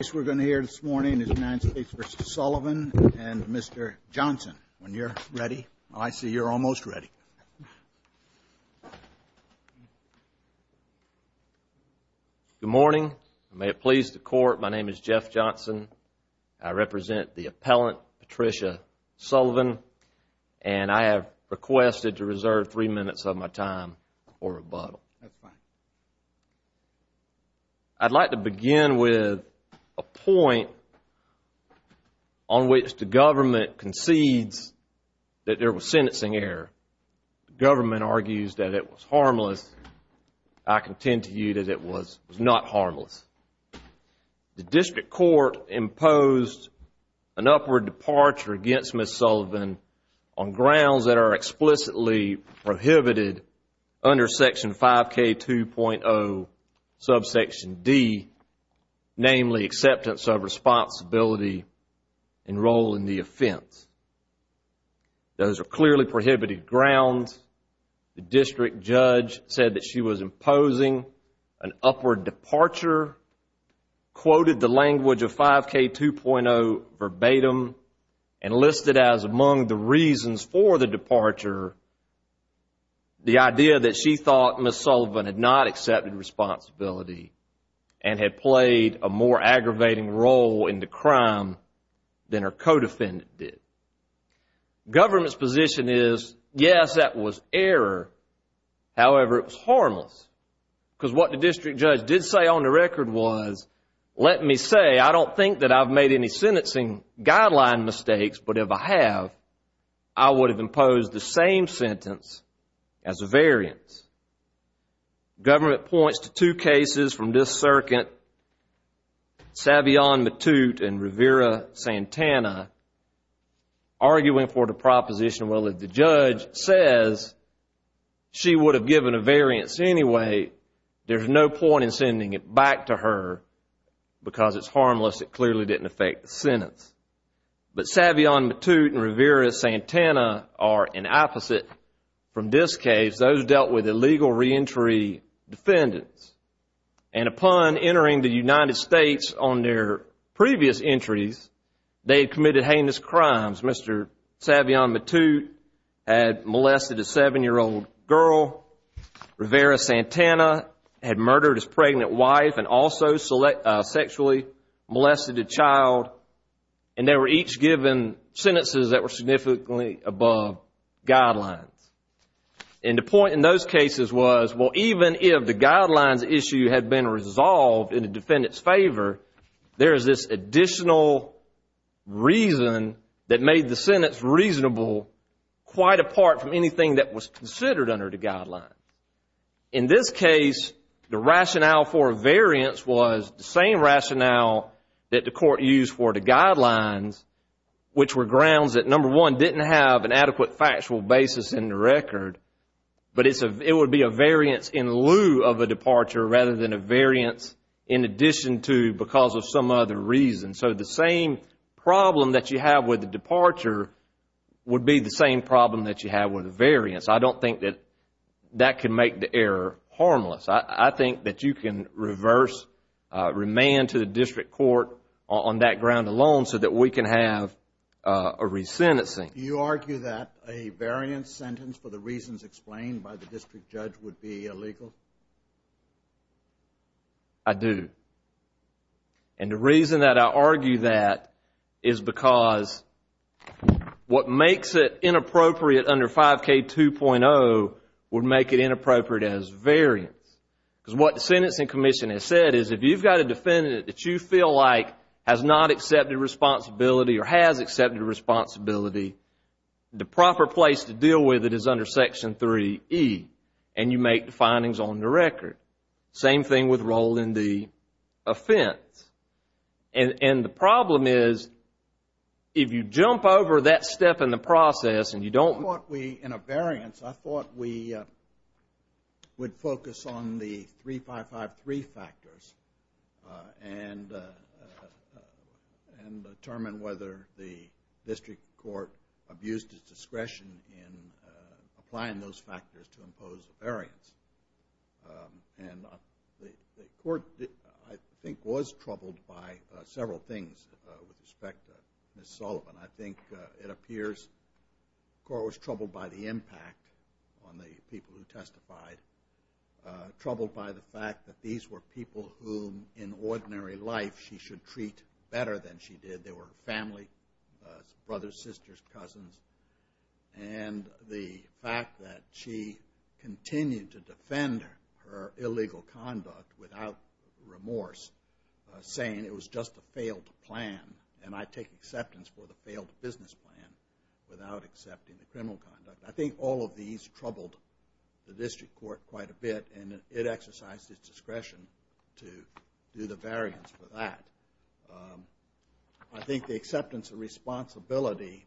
The case we're going to hear this morning is United States v. Sullivan and Mr. Johnson. When you're ready. I see you're almost ready. Good morning. May it please the court, my name is Jeff Johnson. I represent the appellant, Patricia Sullivan, and I have requested to reserve three minutes of my time for rebuttal. That's fine. I'd like to begin with a point on which the government concedes that there was sentencing error. The government argues that it was harmless. I contend to you that it was not harmless. The district court imposed an upward departure against Ms. Sullivan on grounds that are explicitly prohibited under Section 5K2.0, Subsection D, namely acceptance of responsibility and role in the offense. Those are clearly prohibited grounds. The district judge said that she was imposing an upward departure, quoted the language of 5K2.0 verbatim, and listed as among the reasons for the departure the idea that she thought Ms. Sullivan had not accepted responsibility and had played a more aggravating role in the crime than her co-defendant did. The government's position is, yes, that was error. However, it was harmless. Because what the district judge did say on the record was, let me say, I don't think that I've made any sentencing guideline mistakes, but if I have, I would have imposed the same sentence as a variance. The government points to two cases from this circuit, Savion Matute and Rivera-Santana, arguing for the proposition, well, if the judge says she would have given a variance anyway, there's no point in sending it back to her because it's harmless. It clearly didn't affect the sentence. But Savion Matute and Rivera-Santana are an opposite. From this case, those dealt with illegal reentry defendants. And upon entering the United States on their previous entries, they had committed heinous crimes. Mr. Savion Matute had molested a seven-year-old girl. Rivera-Santana had murdered his pregnant wife and also sexually molested a child. And they were each given sentences that were significantly above guidelines. And the point in those cases was, well, even if the guidelines issue had been resolved in the defendant's favor, there is this additional reason that made the sentence reasonable quite apart from anything that was considered under the guidelines. In this case, the rationale for a variance was the same rationale that the court used for the guidelines, which were grounds that, number one, didn't have an adequate factual basis in the record. But it would be a variance in lieu of a departure rather than a variance in addition to because of some other reason. So the same problem that you have with a departure would be the same problem that you have with a variance. I don't think that that can make the error harmless. I think that you can reverse, remand to the district court on that ground alone so that we can have a resentencing. Do you argue that a variance sentence for the reasons explained by the district judge would be illegal? I do. And the reason that I argue that is because what makes it inappropriate under 5K2.0 would make it inappropriate as variance. Because what the Sentencing Commission has said is if you've got a defendant that you feel like has not accepted responsibility or has accepted responsibility, the proper place to deal with it is under Section 3E. And you make the findings on the record. Same thing with role in the offense. And the problem is if you jump over that step in the process and you don't... In a variance, I thought we would focus on the 3553 factors and determine whether the district court abused its discretion in applying those factors to impose a variance. And the court, I think, was troubled by several things with respect to Ms. Sullivan. I think it appears the court was troubled by the impact on the people who testified, troubled by the fact that these were people whom, in ordinary life, she should treat better than she did. They were family, brothers, sisters, cousins. And the fact that she continued to defend her illegal conduct without remorse, saying it was just a failed plan, and I take acceptance for the failed business plan without accepting the criminal conduct. I think all of these troubled the district court quite a bit, and it exercised its discretion to do the variance for that. I think the acceptance of responsibility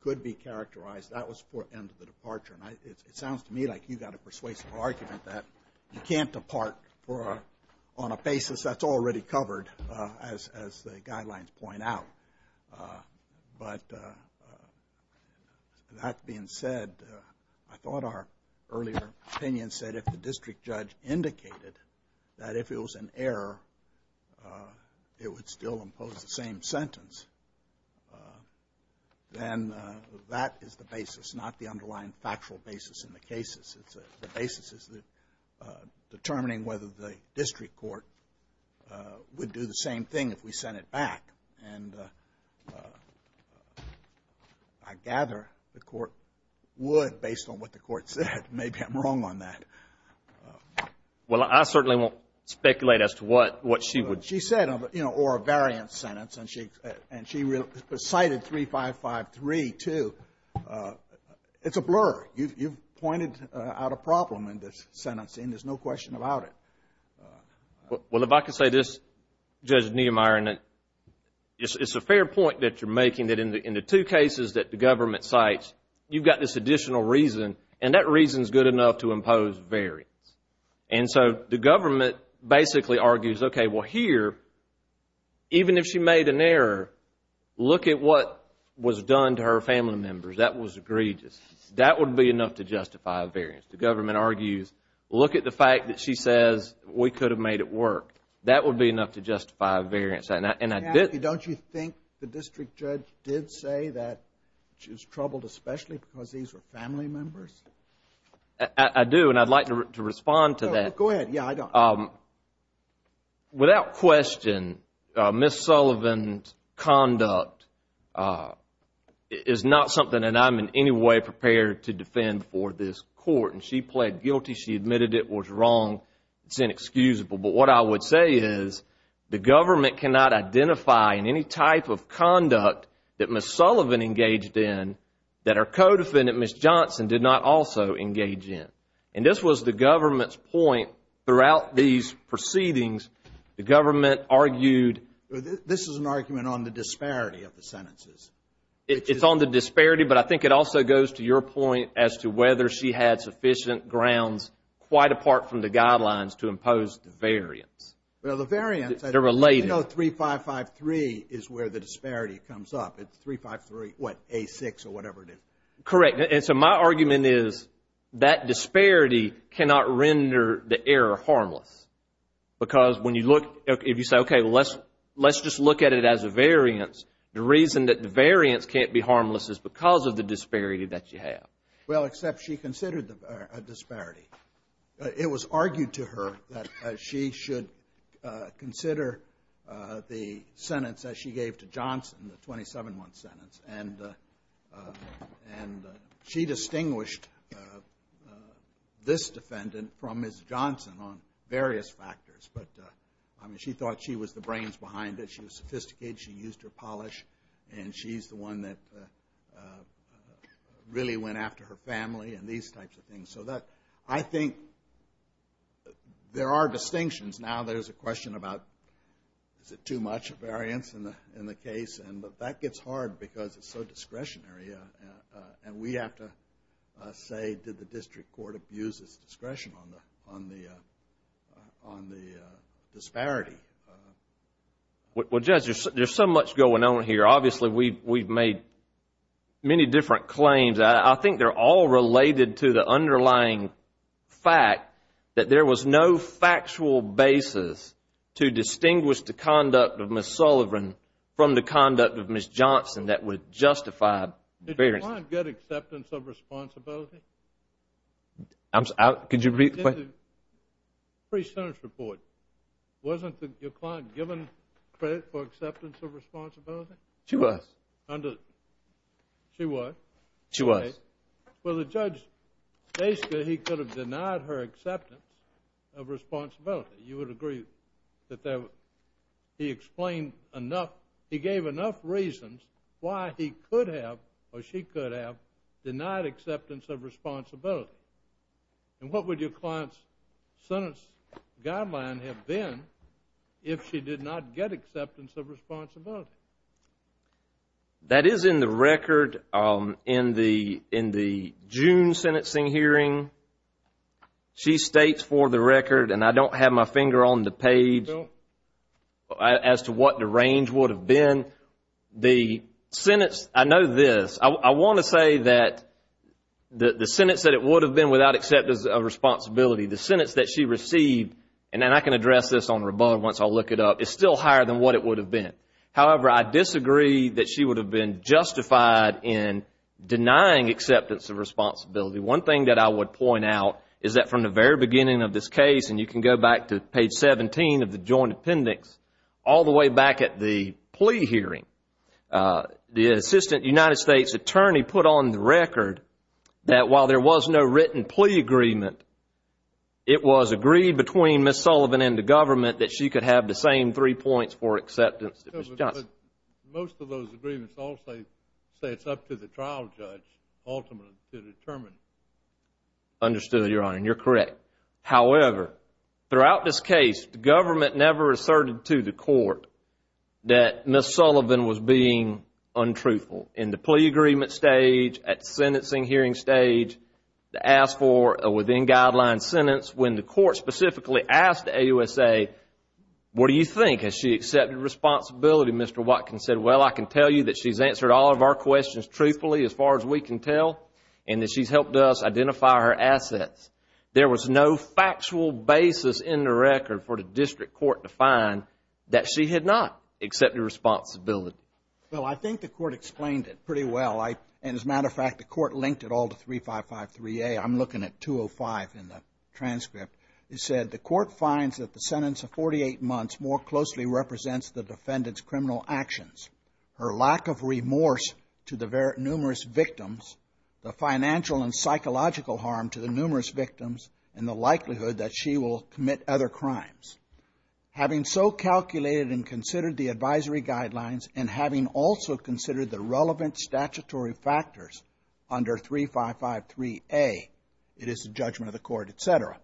could be characterized. That was for end of the departure. And it sounds to me like you've got a persuasive argument that you can't depart on a basis that's already covered, as the guidelines point out. But that being said, I thought our earlier opinion said if the district judge indicated that if it was an error, it would still impose the same sentence, then that is the basis, not the underlying factual basis in the cases. The basis is determining whether the district court would do the same thing if we sent it back. And I gather the court would based on what the court said. Maybe I'm wrong on that. Well, I certainly won't speculate as to what she would. She said, you know, or a variance sentence, and she cited 3553 too. It's a blur. You've pointed out a problem in this sentence, and there's no question about it. Well, if I could say this, Judge Niemeyer, and it's a fair point that you're making, that in the two cases that the government cites, you've got this additional reason, and that reason is good enough to impose variance. And so the government basically argues, okay, well, here, even if she made an error, look at what was done to her family members. That was egregious. That would be enough to justify a variance. The government argues, look at the fact that she says we could have made it work. That would be enough to justify a variance. Don't you think the district judge did say that she was troubled especially because these were family members? I do, and I'd like to respond to that. Go ahead. Yeah, I don't. Without question, Ms. Sullivan's conduct is not something that I'm in any way prepared to defend for this court. And she pled guilty. She admitted it was wrong. It's inexcusable. But what I would say is the government cannot identify in any type of conduct that Ms. Sullivan engaged in that her co-defendant, Ms. Johnson, did not also engage in. And this was the government's point throughout these proceedings. The government argued. This is an argument on the disparity of the sentences. It's on the disparity, but I think it also goes to your point as to whether she had sufficient grounds quite apart from the guidelines to impose the variance. Well, the variance. They're related. You know 3553 is where the disparity comes up. It's 353, what, A6 or whatever it is. Correct. And so my argument is that disparity cannot render the error harmless. Because when you look, if you say, okay, let's just look at it as a variance, the reason that the variance can't be harmless is because of the disparity that you have. Well, except she considered a disparity. It was argued to her that she should consider the sentence that she gave to Johnson, the 27-month sentence. And she distinguished this defendant from Ms. Johnson on various factors. But, I mean, she thought she was the brains behind it. She was sophisticated. She used her polish. And she's the one that really went after her family and these types of things. So I think there are distinctions. Now there's a question about, is it too much variance in the case? But that gets hard because it's so discretionary. And we have to say, did the district court abuse its discretion on the disparity? Well, Judge, there's so much going on here. Obviously, we've made many different claims. I think they're all related to the underlying fact that there was no factual basis to distinguish the conduct of Ms. Sullivan from the conduct of Ms. Johnson that would justify variance. Did your client get acceptance of responsibility? Could you repeat the question? In the pre-sentence report, wasn't your client given credit for acceptance of responsibility? She was. She was? She was. Okay. Well, the judge, basically, he could have denied her acceptance of responsibility. You would agree that he gave enough reasons why he could have or she could have denied acceptance of responsibility. And what would your client's sentence guideline have been if she did not get acceptance of responsibility? That is in the record in the June sentencing hearing. She states for the record, and I don't have my finger on the page, as to what the range would have been. The sentence, I know this. I want to say that the sentence that it would have been without acceptance of responsibility, the sentence that she received, and I can address this on rebuttal once I look it up, is still higher than what it would have been. However, I disagree that she would have been justified in denying acceptance of responsibility. One thing that I would point out is that from the very beginning of this case, and you can go back to page 17 of the joint appendix, all the way back at the plea hearing, the assistant United States attorney put on the record that while there was no written plea agreement, it was agreed between Ms. Sullivan and the government that she could have the same three points for acceptance. Most of those agreements all say it's up to the trial judge ultimately to determine. Understood, Your Honor, and you're correct. However, throughout this case, the government never asserted to the court that Ms. Sullivan was being untruthful in the plea agreement stage, at the sentencing hearing stage, to ask for a within-guideline sentence. When the court specifically asked the AUSA, what do you think? Has she accepted responsibility? Mr. Watkins said, well, I can tell you that she's answered all of our questions truthfully, as far as we can tell, and that she's helped us identify her assets. There was no factual basis in the record for the district court to find that she had not accepted responsibility. Well, I think the court explained it pretty well. As a matter of fact, the court linked it all to 3553A. I'm looking at 205 in the transcript. It said, the court finds that the sentence of 48 months more closely represents the defendant's criminal actions, her lack of remorse to the numerous victims, the financial and psychological harm to the numerous victims, and the likelihood that she will commit other crimes. Having so calculated and considered the advisory guidelines and having also considered the relevant statutory factors under 3553A, it is the judgment of the court, et cetera.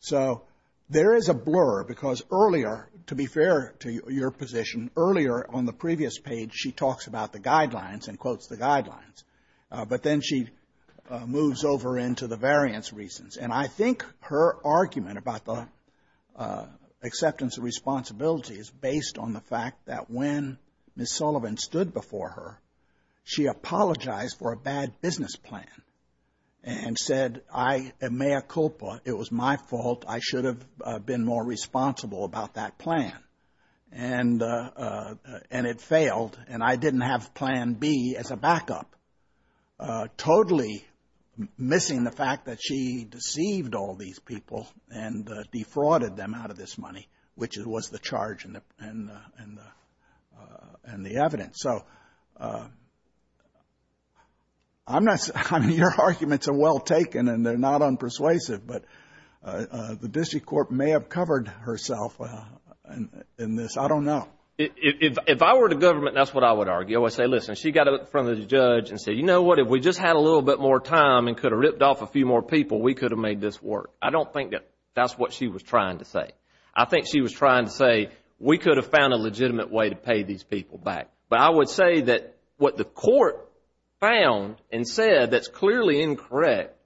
So there is a blur, because earlier, to be fair to your position, earlier on the previous page she talks about the guidelines and quotes the guidelines. But then she moves over into the variance reasons. And I think her argument about the acceptance of responsibility is based on the fact that when Ms. Sullivan stood before her, she apologized for a bad business plan and said, I am mea culpa. It was my fault. I should have been more responsible about that plan. And it failed, and I didn't have Plan B as a backup, totally missing the fact that she deceived all these people and defrauded them out of this money, which was the charge and the evidence. So your arguments are well taken, and they're not unpersuasive, but the district court may have covered herself in this. I don't know. If I were the government, that's what I would argue. I would say, listen, she got up in front of the judge and said, you know what? If we just had a little bit more time and could have ripped off a few more people, we could have made this work. I don't think that that's what she was trying to say. I think she was trying to say, we could have found a legitimate way to pay these people back. But I would say that what the court found and said that's clearly incorrect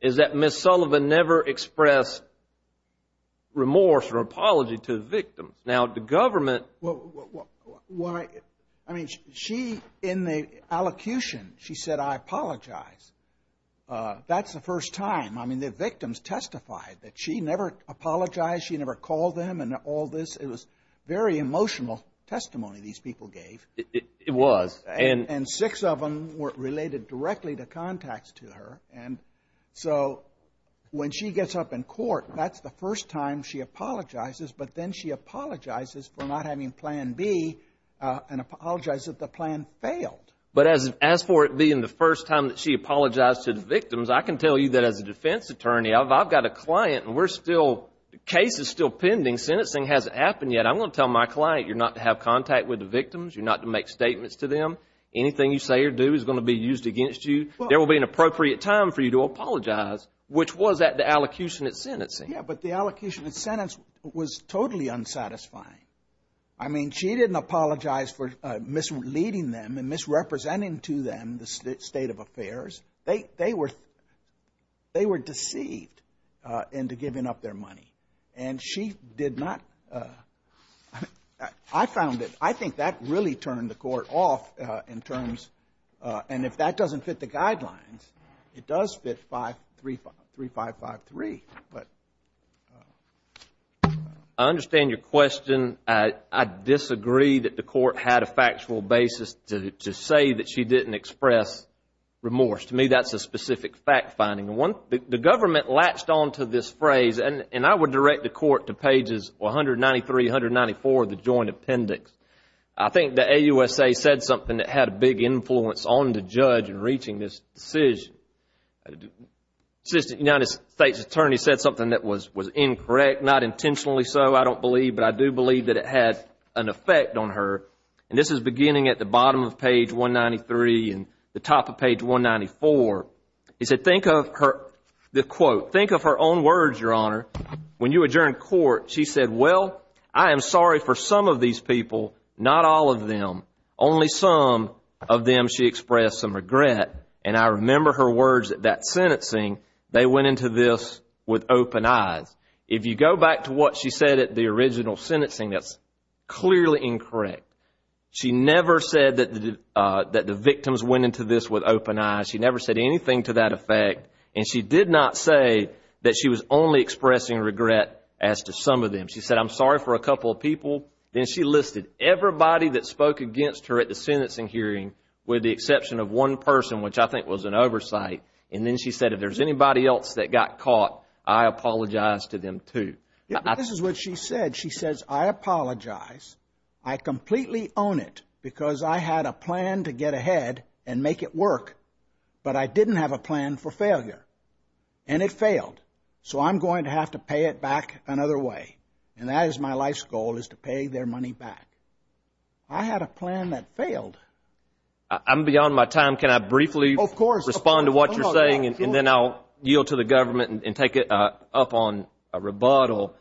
is that Ms. Sullivan never expressed remorse or apology to the victims. Now, the government – Well, I mean, she, in the allocution, she said, I apologize. That's the first time. I mean, the victims testified that she never apologized. She never called them and all this. It was very emotional testimony these people gave. It was. And six of them were related directly to contacts to her. And so when she gets up in court, that's the first time she apologizes, but then she apologizes for not having Plan B and apologizes that the plan failed. But as for it being the first time that she apologized to the victims, I can tell you that as a defense attorney, I've got a client and we're still – the case is still pending. Sentencing hasn't happened yet. I'm going to tell my client you're not to have contact with the victims. You're not to make statements to them. Anything you say or do is going to be used against you. There will be an appropriate time for you to apologize, which was at the allocation at sentencing. Yeah, but the allocation at sentence was totally unsatisfying. I mean, she didn't apologize for misleading them and misrepresenting to them the state of affairs. They were deceived into giving up their money. And she did not – I found that – I think that really turned the court off in terms – and if that doesn't fit the guidelines, it does fit 3553. I understand your question. I disagree that the court had a factual basis to say that she didn't express remorse. To me, that's a specific fact finding. The government latched onto this phrase, and I would direct the court to pages 193, 194 of the Joint Appendix. I think the AUSA said something that had a big influence on the judge in reaching this decision. The Assistant United States Attorney said something that was incorrect, not intentionally so, I don't believe, but I do believe that it had an effect on her. And this is beginning at the bottom of page 193 and the top of page 194. He said, think of her – the quote – think of her own words, Your Honor. When you adjourned court, she said, well, I am sorry for some of these people, not all of them. Only some of them she expressed some regret, and I remember her words at that sentencing. They went into this with open eyes. If you go back to what she said at the original sentencing, that's clearly incorrect. She never said that the victims went into this with open eyes. She never said anything to that effect. And she did not say that she was only expressing regret as to some of them. She said, I'm sorry for a couple of people. Then she listed everybody that spoke against her at the sentencing hearing, with the exception of one person, which I think was an oversight. And then she said, if there's anybody else that got caught, I apologize to them too. This is what she said. She says, I apologize. I completely own it because I had a plan to get ahead and make it work, but I didn't have a plan for failure, and it failed. So I'm going to have to pay it back another way. And that is my life's goal is to pay their money back. I had a plan that failed. I'm beyond my time. Can I briefly respond to what you're saying? And then I'll yield to the government and take it up on a rebuttal.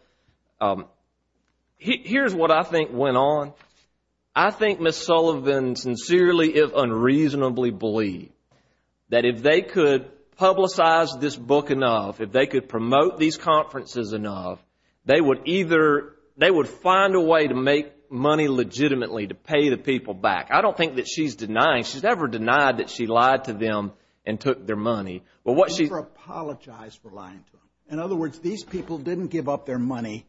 Here's what I think went on. I think Ms. Sullivan sincerely, if unreasonably, believed that if they could publicize this book enough, if they could promote these conferences enough, they would find a way to make money legitimately to pay the people back. I don't think that she's denying. She's never denied that she lied to them and took their money. She never apologized for lying to them. In other words, these people didn't give up their money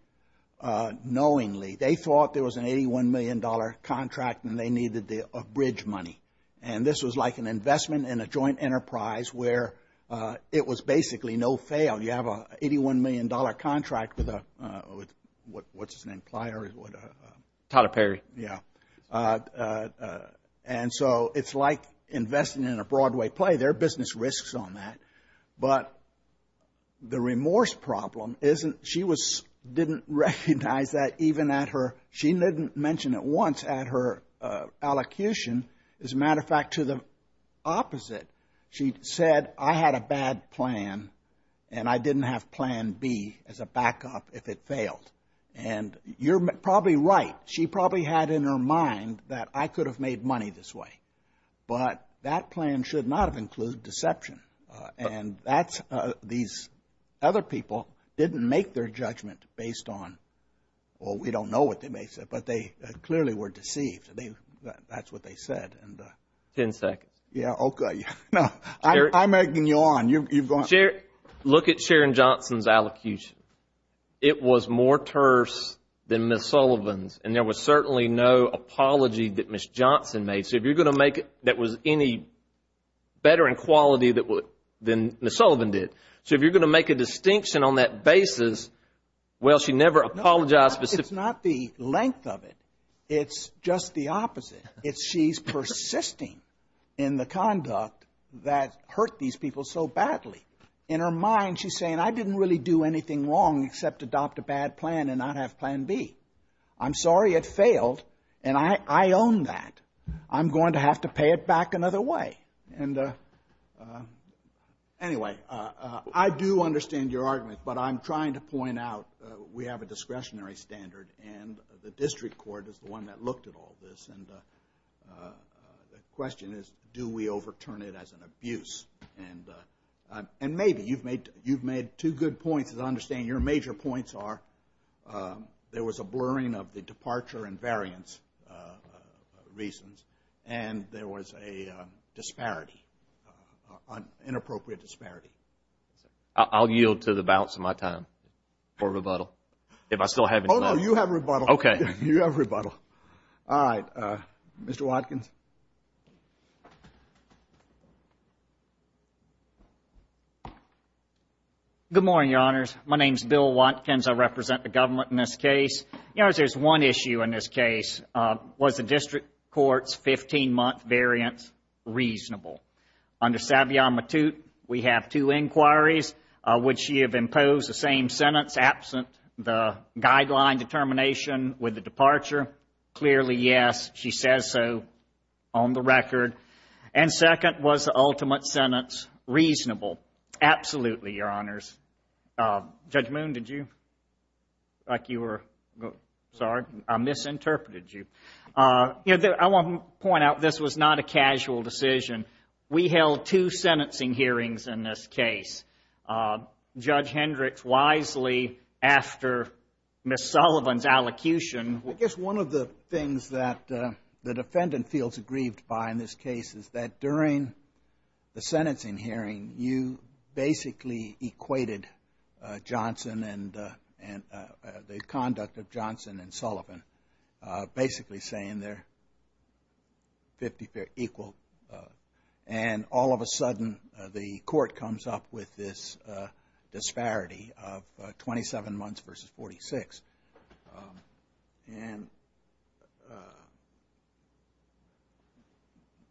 knowingly. They thought there was an $81 million contract and they needed a bridge money. And this was like an investment in a joint enterprise where it was basically no fail. You have an $81 million contract with what's his name? Tyler Perry. Yeah. And so it's like investing in a Broadway play. There are business risks on that. But the remorse problem, she didn't recognize that even at her, she didn't mention it once at her allocution. As a matter of fact, to the opposite, she said, I had a bad plan and I didn't have plan B as a backup if it failed. And you're probably right. She probably had in her mind that I could have made money this way. But that plan should not have included deception. And these other people didn't make their judgment based on, well, we don't know what they may have said, but they clearly were deceived. That's what they said. Ten seconds. Yeah, okay. I'm egging you on. Look at Sharon Johnson's allocution. It was more terse than Ms. Sullivan's. And there was certainly no apology that Ms. Johnson made. So if you're going to make it that was any better in quality than Ms. Sullivan did. So if you're going to make a distinction on that basis, well, she never apologized. It's not the length of it. It's just the opposite. It's she's persisting in the conduct that hurt these people so badly. In her mind she's saying I didn't really do anything wrong except adopt a bad plan and not have plan B. I'm sorry it failed. And I own that. I'm going to have to pay it back another way. And anyway, I do understand your argument. But I'm trying to point out we have a discretionary standard. And the district court is the one that looked at all this. And the question is do we overturn it as an abuse? And maybe. You've made two good points that I understand. Your major points are there was a blurring of the departure and variance reasons. And there was a disparity, inappropriate disparity. I'll yield to the balance of my time for rebuttal. If I still have any time. Oh, no, you have rebuttal. Okay. You have rebuttal. All right. Mr. Watkins. Good morning, Your Honors. My name is Bill Watkins. I represent the government in this case. Your Honors, there's one issue in this case. Was the district court's 15-month variance reasonable? Under Savion Matute, we have two inquiries. Would she have imposed the same sentence absent the guideline determination with the departure? Clearly, yes. She says so on the record. And second, was the ultimate sentence reasonable? Absolutely, Your Honors. Judge Moon, did you? Like you were, sorry, I misinterpreted you. I want to point out this was not a casual decision. We held two sentencing hearings in this case. Judge Hendricks wisely after Ms. Sullivan's allocution. I guess one of the things that the defendant feels aggrieved by in this case is that during the sentencing hearing, you basically equated Johnson and the conduct of Johnson and Sullivan, basically saying they're equal. And all of a sudden, the court comes up with this disparity of 27 months versus 46. And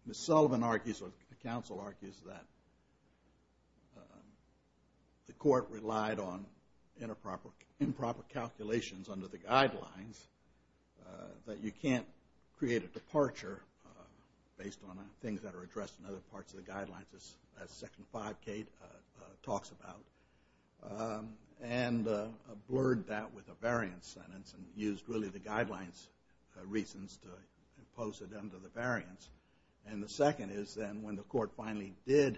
Ms. Sullivan argues or the counsel argues that the court relied on improper calculations under the guidelines, that you can't create a departure based on things that are addressed in other parts of the guidelines, as Section 5K talks about. And blurred that with a variance sentence and used really the guidelines reasons to impose it under the variance. And the second is then when the court finally did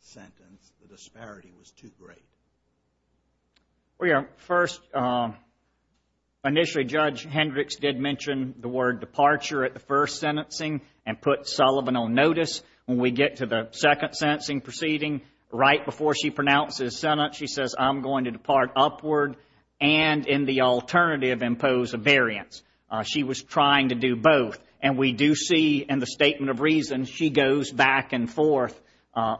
sentence, the disparity was too great. First, initially Judge Hendricks did mention the word departure at the first sentencing and put Sullivan on notice. When we get to the second sentencing proceeding, right before she pronounces sentence, she says I'm going to depart upward and in the alternative impose a variance. She was trying to do both. And we do see in the statement of reasons she goes back and forth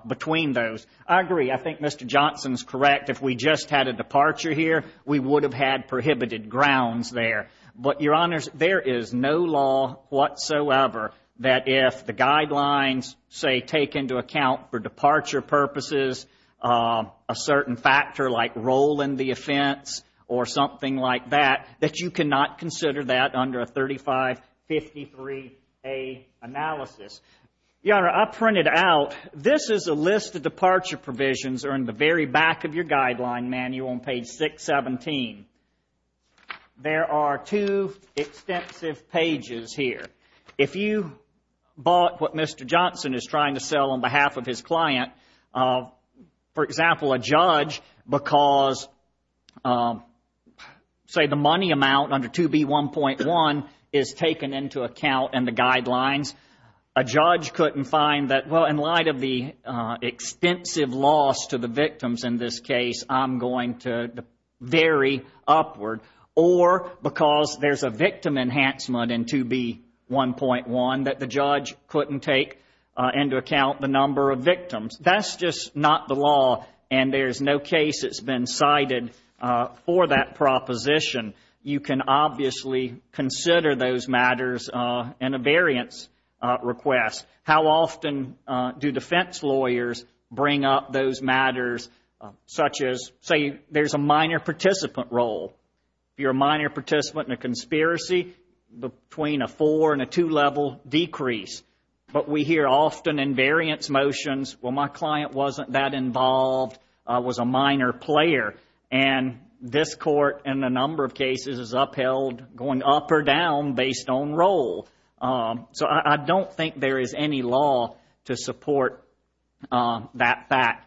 between those. I agree. I think Mr. Johnson's correct. If we just had a departure here, we would have had prohibited grounds there. But, Your Honors, there is no law whatsoever that if the guidelines, say, take into account for departure purposes a certain factor like role in the offense or something like that, that you cannot consider that under a 3553A analysis. Your Honor, I printed out, this is a list of departure provisions are in the very back of your guideline manual on page 617. There are two extensive pages here. If you bought what Mr. Johnson is trying to sell on behalf of his client, for example, a judge because, say, the money amount under 2B1.1 is taken into account in the guidelines, a judge couldn't find that, well, in light of the extensive loss to the victims in this case, I'm going to vary upward. Or because there's a victim enhancement in 2B1.1 that the judge couldn't take into account the number of victims. That's just not the law, and there's no case that's been cited for that proposition. You can obviously consider those matters in a variance request. How often do defense lawyers bring up those matters such as, say, there's a minor participant role. If you're a minor participant in a conspiracy, between a four and a two level decrease. But we hear often in variance motions, well, my client wasn't that involved, was a minor player. And this court, in a number of cases, is upheld going up or down based on role. So I don't think there is any law to support that fact.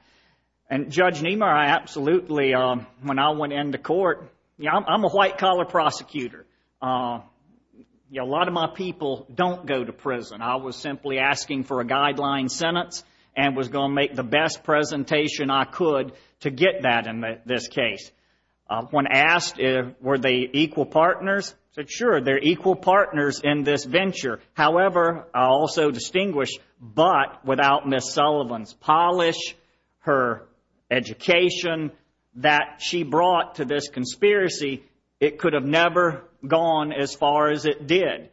And Judge Niemeyer, I absolutely, when I went into court, I'm a white collar prosecutor. A lot of my people don't go to prison. I was simply asking for a guideline sentence and was going to make the best presentation I could to get that in this case. When asked were they equal partners, I said, sure, they're equal partners in this venture. However, I also distinguish, but without Ms. Sullivan's polish, her education that she brought to this conspiracy, it could have never gone as far as it did.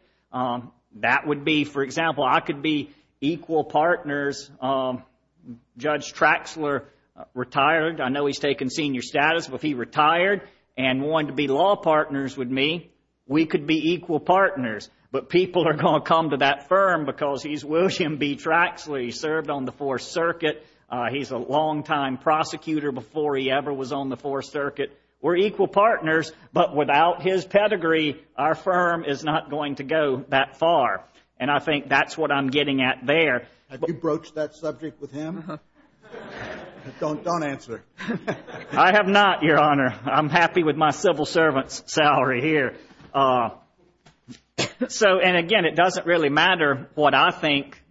That would be, for example, I could be equal partners. Judge Traxler retired. I know he's taken senior status, but if he retired and wanted to be law partners with me, we could be equal partners. But people are going to come to that firm because he's William B. Traxler. He served on the Fourth Circuit. He's a longtime prosecutor before he ever was on the Fourth Circuit. We're equal partners, but without his pedigree, our firm is not going to go that far. And I think that's what I'm getting at there. Have you broached that subject with him? Don't answer. I have not, Your Honor. I'm happy with my civil servant's salary here. So, and again, it doesn't really matter what I think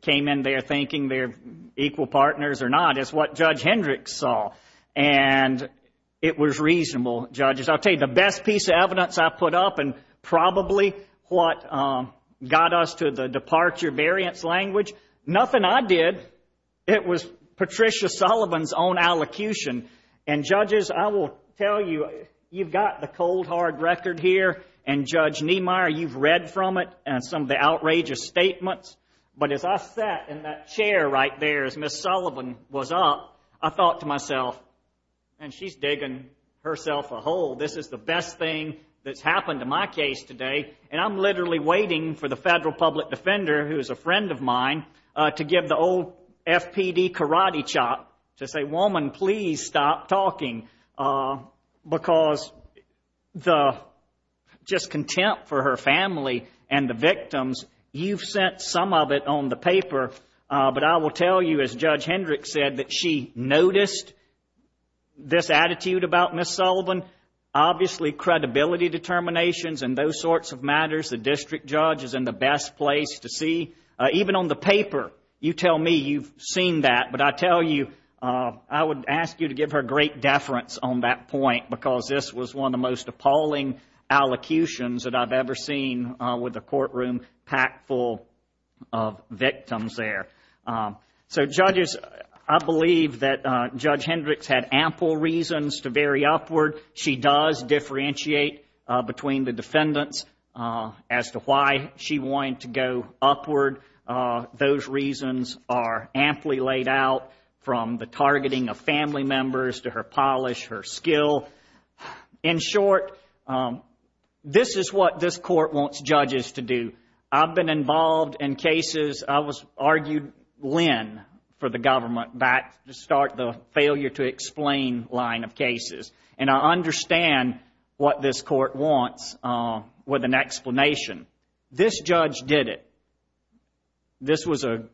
came in there thinking they're equal partners or not. It's what Judge Hendricks saw, and it was reasonable, judges. I'll tell you, the best piece of evidence I put up and probably what got us to the departure variance language, nothing I did, it was Patricia Sullivan's own allocution. And, judges, I will tell you, you've got the cold, hard record here, and, Judge Niemeyer, you've read from it and some of the outrageous statements. But as I sat in that chair right there as Ms. Sullivan was up, I thought to myself, and she's digging herself a hole, this is the best thing that's happened to my case today, and I'm literally waiting for the federal public defender, who is a friend of mine, to give the old FPD karate chop to say, woman, please stop talking. Because the just contempt for her family and the victims, you've sent some of it on the paper. But I will tell you, as Judge Hendricks said, that she noticed this attitude about Ms. Sullivan. Obviously, credibility determinations and those sorts of matters, the district judge is in the best place to see. Even on the paper, you tell me you've seen that. But I tell you, I would ask you to give her great deference on that point, because this was one of the most appalling allocutions that I've ever seen with a courtroom packed full of victims there. So, judges, I believe that Judge Hendricks had ample reasons to vary upward. She does differentiate between the defendants as to why she wanted to go upward. Those reasons are amply laid out from the targeting of family members to her polish, her skill. In short, this is what this court wants judges to do. I've been involved in cases. I was argued in for the government back to start the failure to explain line of cases. And I understand what this court wants with an explanation. This judge did it. This was a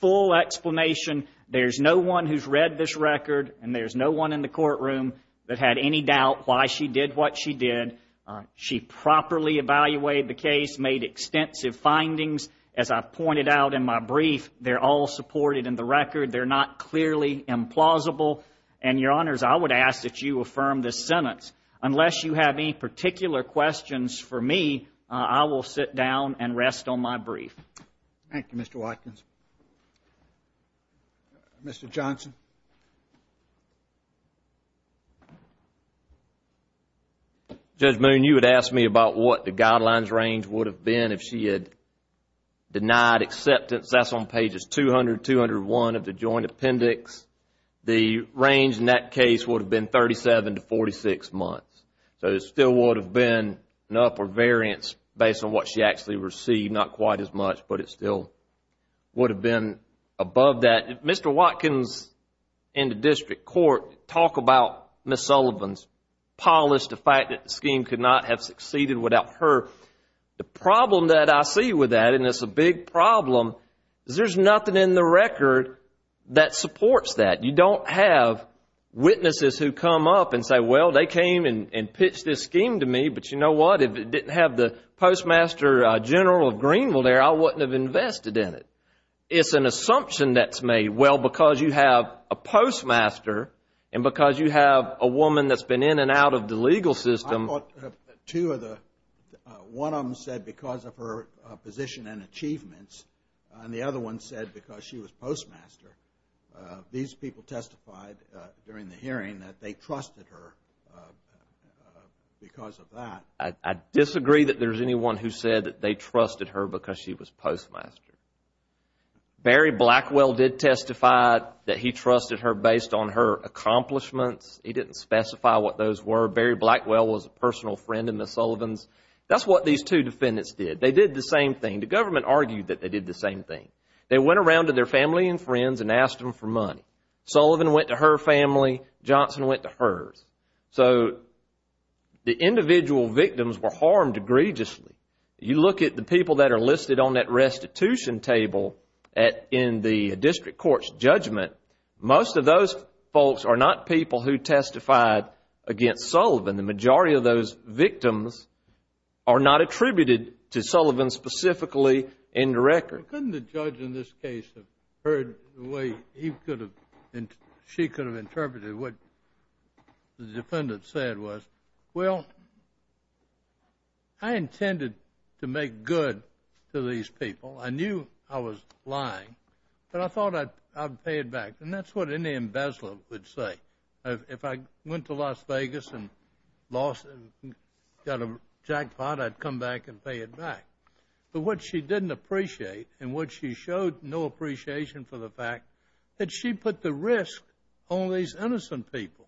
full explanation. There's no one who's read this record, and there's no one in the courtroom that had any doubt why she did what she did. She properly evaluated the case, made extensive findings. As I pointed out in my brief, they're all supported in the record. They're not clearly implausible. Unless you have any particular questions for me, I will sit down and rest on my brief. Thank you, Mr. Watkins. Mr. Johnson. Judge Moon, you had asked me about what the guidelines range would have been if she had denied acceptance. That's on pages 200 and 201 of the joint appendix. The range in that case would have been 37 to 46 months. So it still would have been an upper variance based on what she actually received, not quite as much, but it still would have been above that. Mr. Watkins and the district court talk about Ms. Sullivan's policy, the fact that the scheme could not have succeeded without her. The problem that I see with that, and it's a big problem, is there's nothing in the record that supports that. You don't have witnesses who come up and say, well, they came and pitched this scheme to me, but you know what, if it didn't have the postmaster general of Greenville there, I wouldn't have invested in it. It's an assumption that's made, well, because you have a postmaster and because you have a woman that's been in and out of the legal system. Two of the, one of them said because of her position and achievements, and the other one said because she was postmaster. These people testified during the hearing that they trusted her because of that. I disagree that there's anyone who said that they trusted her because she was postmaster. Barry Blackwell did testify that he trusted her based on her accomplishments. He didn't specify what those were. Barry Blackwell was a personal friend of Ms. Sullivan's. That's what these two defendants did. They did the same thing. The government argued that they did the same thing. They went around to their family and friends and asked them for money. Sullivan went to her family. Johnson went to hers. So the individual victims were harmed egregiously. You look at the people that are listed on that restitution table in the district court's judgment, most of those folks are not people who testified against Sullivan. The majority of those victims are not attributed to Sullivan specifically in the record. Couldn't the judge in this case have heard the way he could have, she could have interpreted what the defendant said was, well, I intended to make good to these people. I knew I was lying, but I thought I'd pay it back. And that's what any embezzler would say. If I went to Las Vegas and got a jackpot, I'd come back and pay it back. But what she didn't appreciate and what she showed no appreciation for the fact, that she put the risk on these innocent people.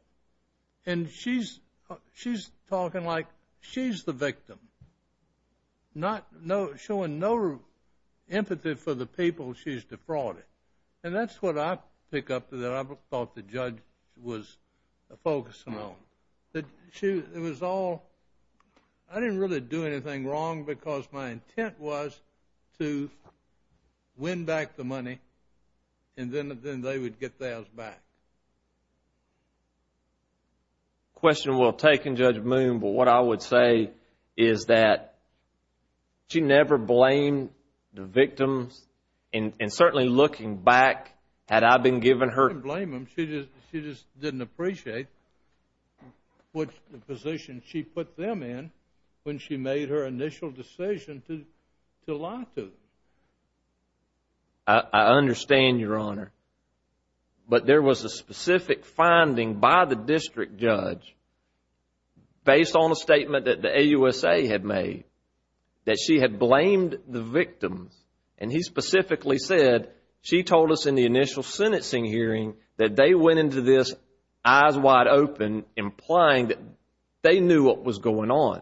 And she's talking like she's the victim, showing no empathy for the people she's defrauding. And that's what I pick up that I thought the judge was focusing on. It was all, I didn't really do anything wrong because my intent was to win back the money and then they would get theirs back. Question well taken, Judge Moon, but what I would say is that she never blamed the victims. And certainly looking back, had I been giving her She didn't blame them, she just didn't appreciate the position she put them in when she made her initial decision to lie to them. I understand, Your Honor. But there was a specific finding by the district judge, based on a statement that the AUSA had made, that she had blamed the victims. And he specifically said, she told us in the initial sentencing hearing, that they went into this eyes wide open, implying that they knew what was going on.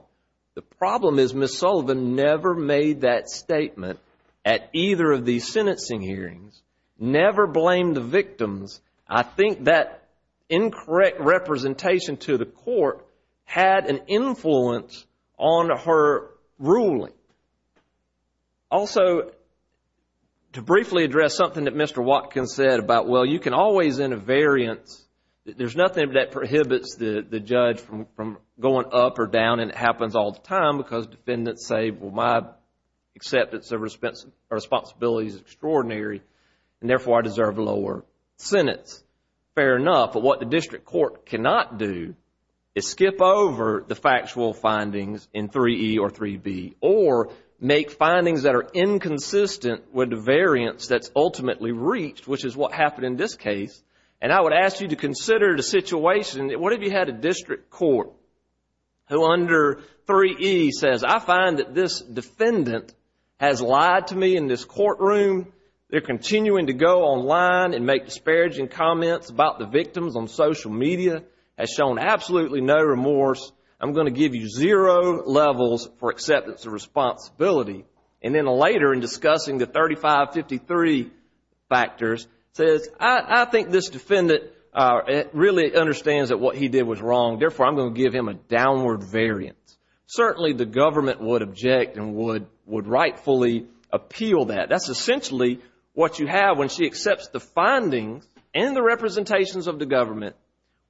The problem is Ms. Sullivan never made that statement at either of these sentencing hearings. Never blamed the victims. I think that incorrect representation to the court had an influence on her ruling. Also, to briefly address something that Mr. Watkins said about, well, you can always, in a variance, there's nothing that prohibits the judge from going up or down and it happens all the time because defendants say, well, my acceptance of responsibility is extraordinary and therefore I deserve a lower sentence. Fair enough, but what the district court cannot do is skip over the factual findings in 3E or 3B or make findings that are inconsistent with the variance that's ultimately reached, which is what happened in this case. And I would ask you to consider the situation, what if you had a district court who under 3E says, I find that this defendant has lied to me in this courtroom, they're continuing to go online and make disparaging comments about the victims on social media, has shown absolutely no remorse, I'm going to give you zero levels for acceptance of responsibility. And then later in discussing the 3553 factors says, I think this defendant really understands that what he did was wrong, therefore I'm going to give him a downward variance. Certainly the government would object and would rightfully appeal that. That's essentially what you have when she accepts the findings and the representations of the government.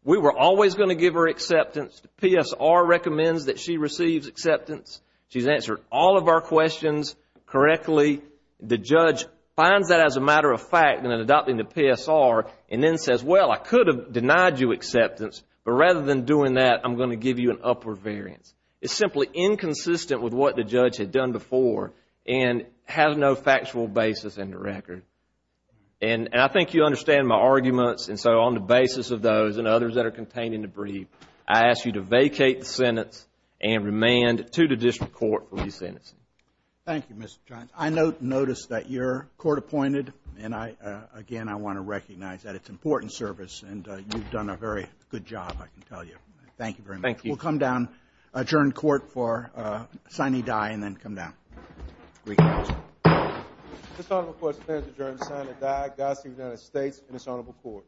We were always going to give her acceptance. The PSR recommends that she receives acceptance. She's answered all of our questions correctly. The judge finds that as a matter of fact in adopting the PSR and then says, well, I could have denied you acceptance, but rather than doing that, I'm going to give you an upward variance. It's simply inconsistent with what the judge had done before and has no factual basis in the record. And I think you understand my arguments. And so on the basis of those and others that are contained in the brief, I ask you to vacate the sentence and remand it to the district court for re-sentencing. Thank you, Mr. Johns. I notice that you're court appointed, and, again, I want to recognize that it's important service, and you've done a very good job, I can tell you. Thank you very much. Thank you. We'll come down, adjourn court for signing die, and then come down. Reconciled. This honorable court stands adjourned, signing die. God save the United States and this honorable court.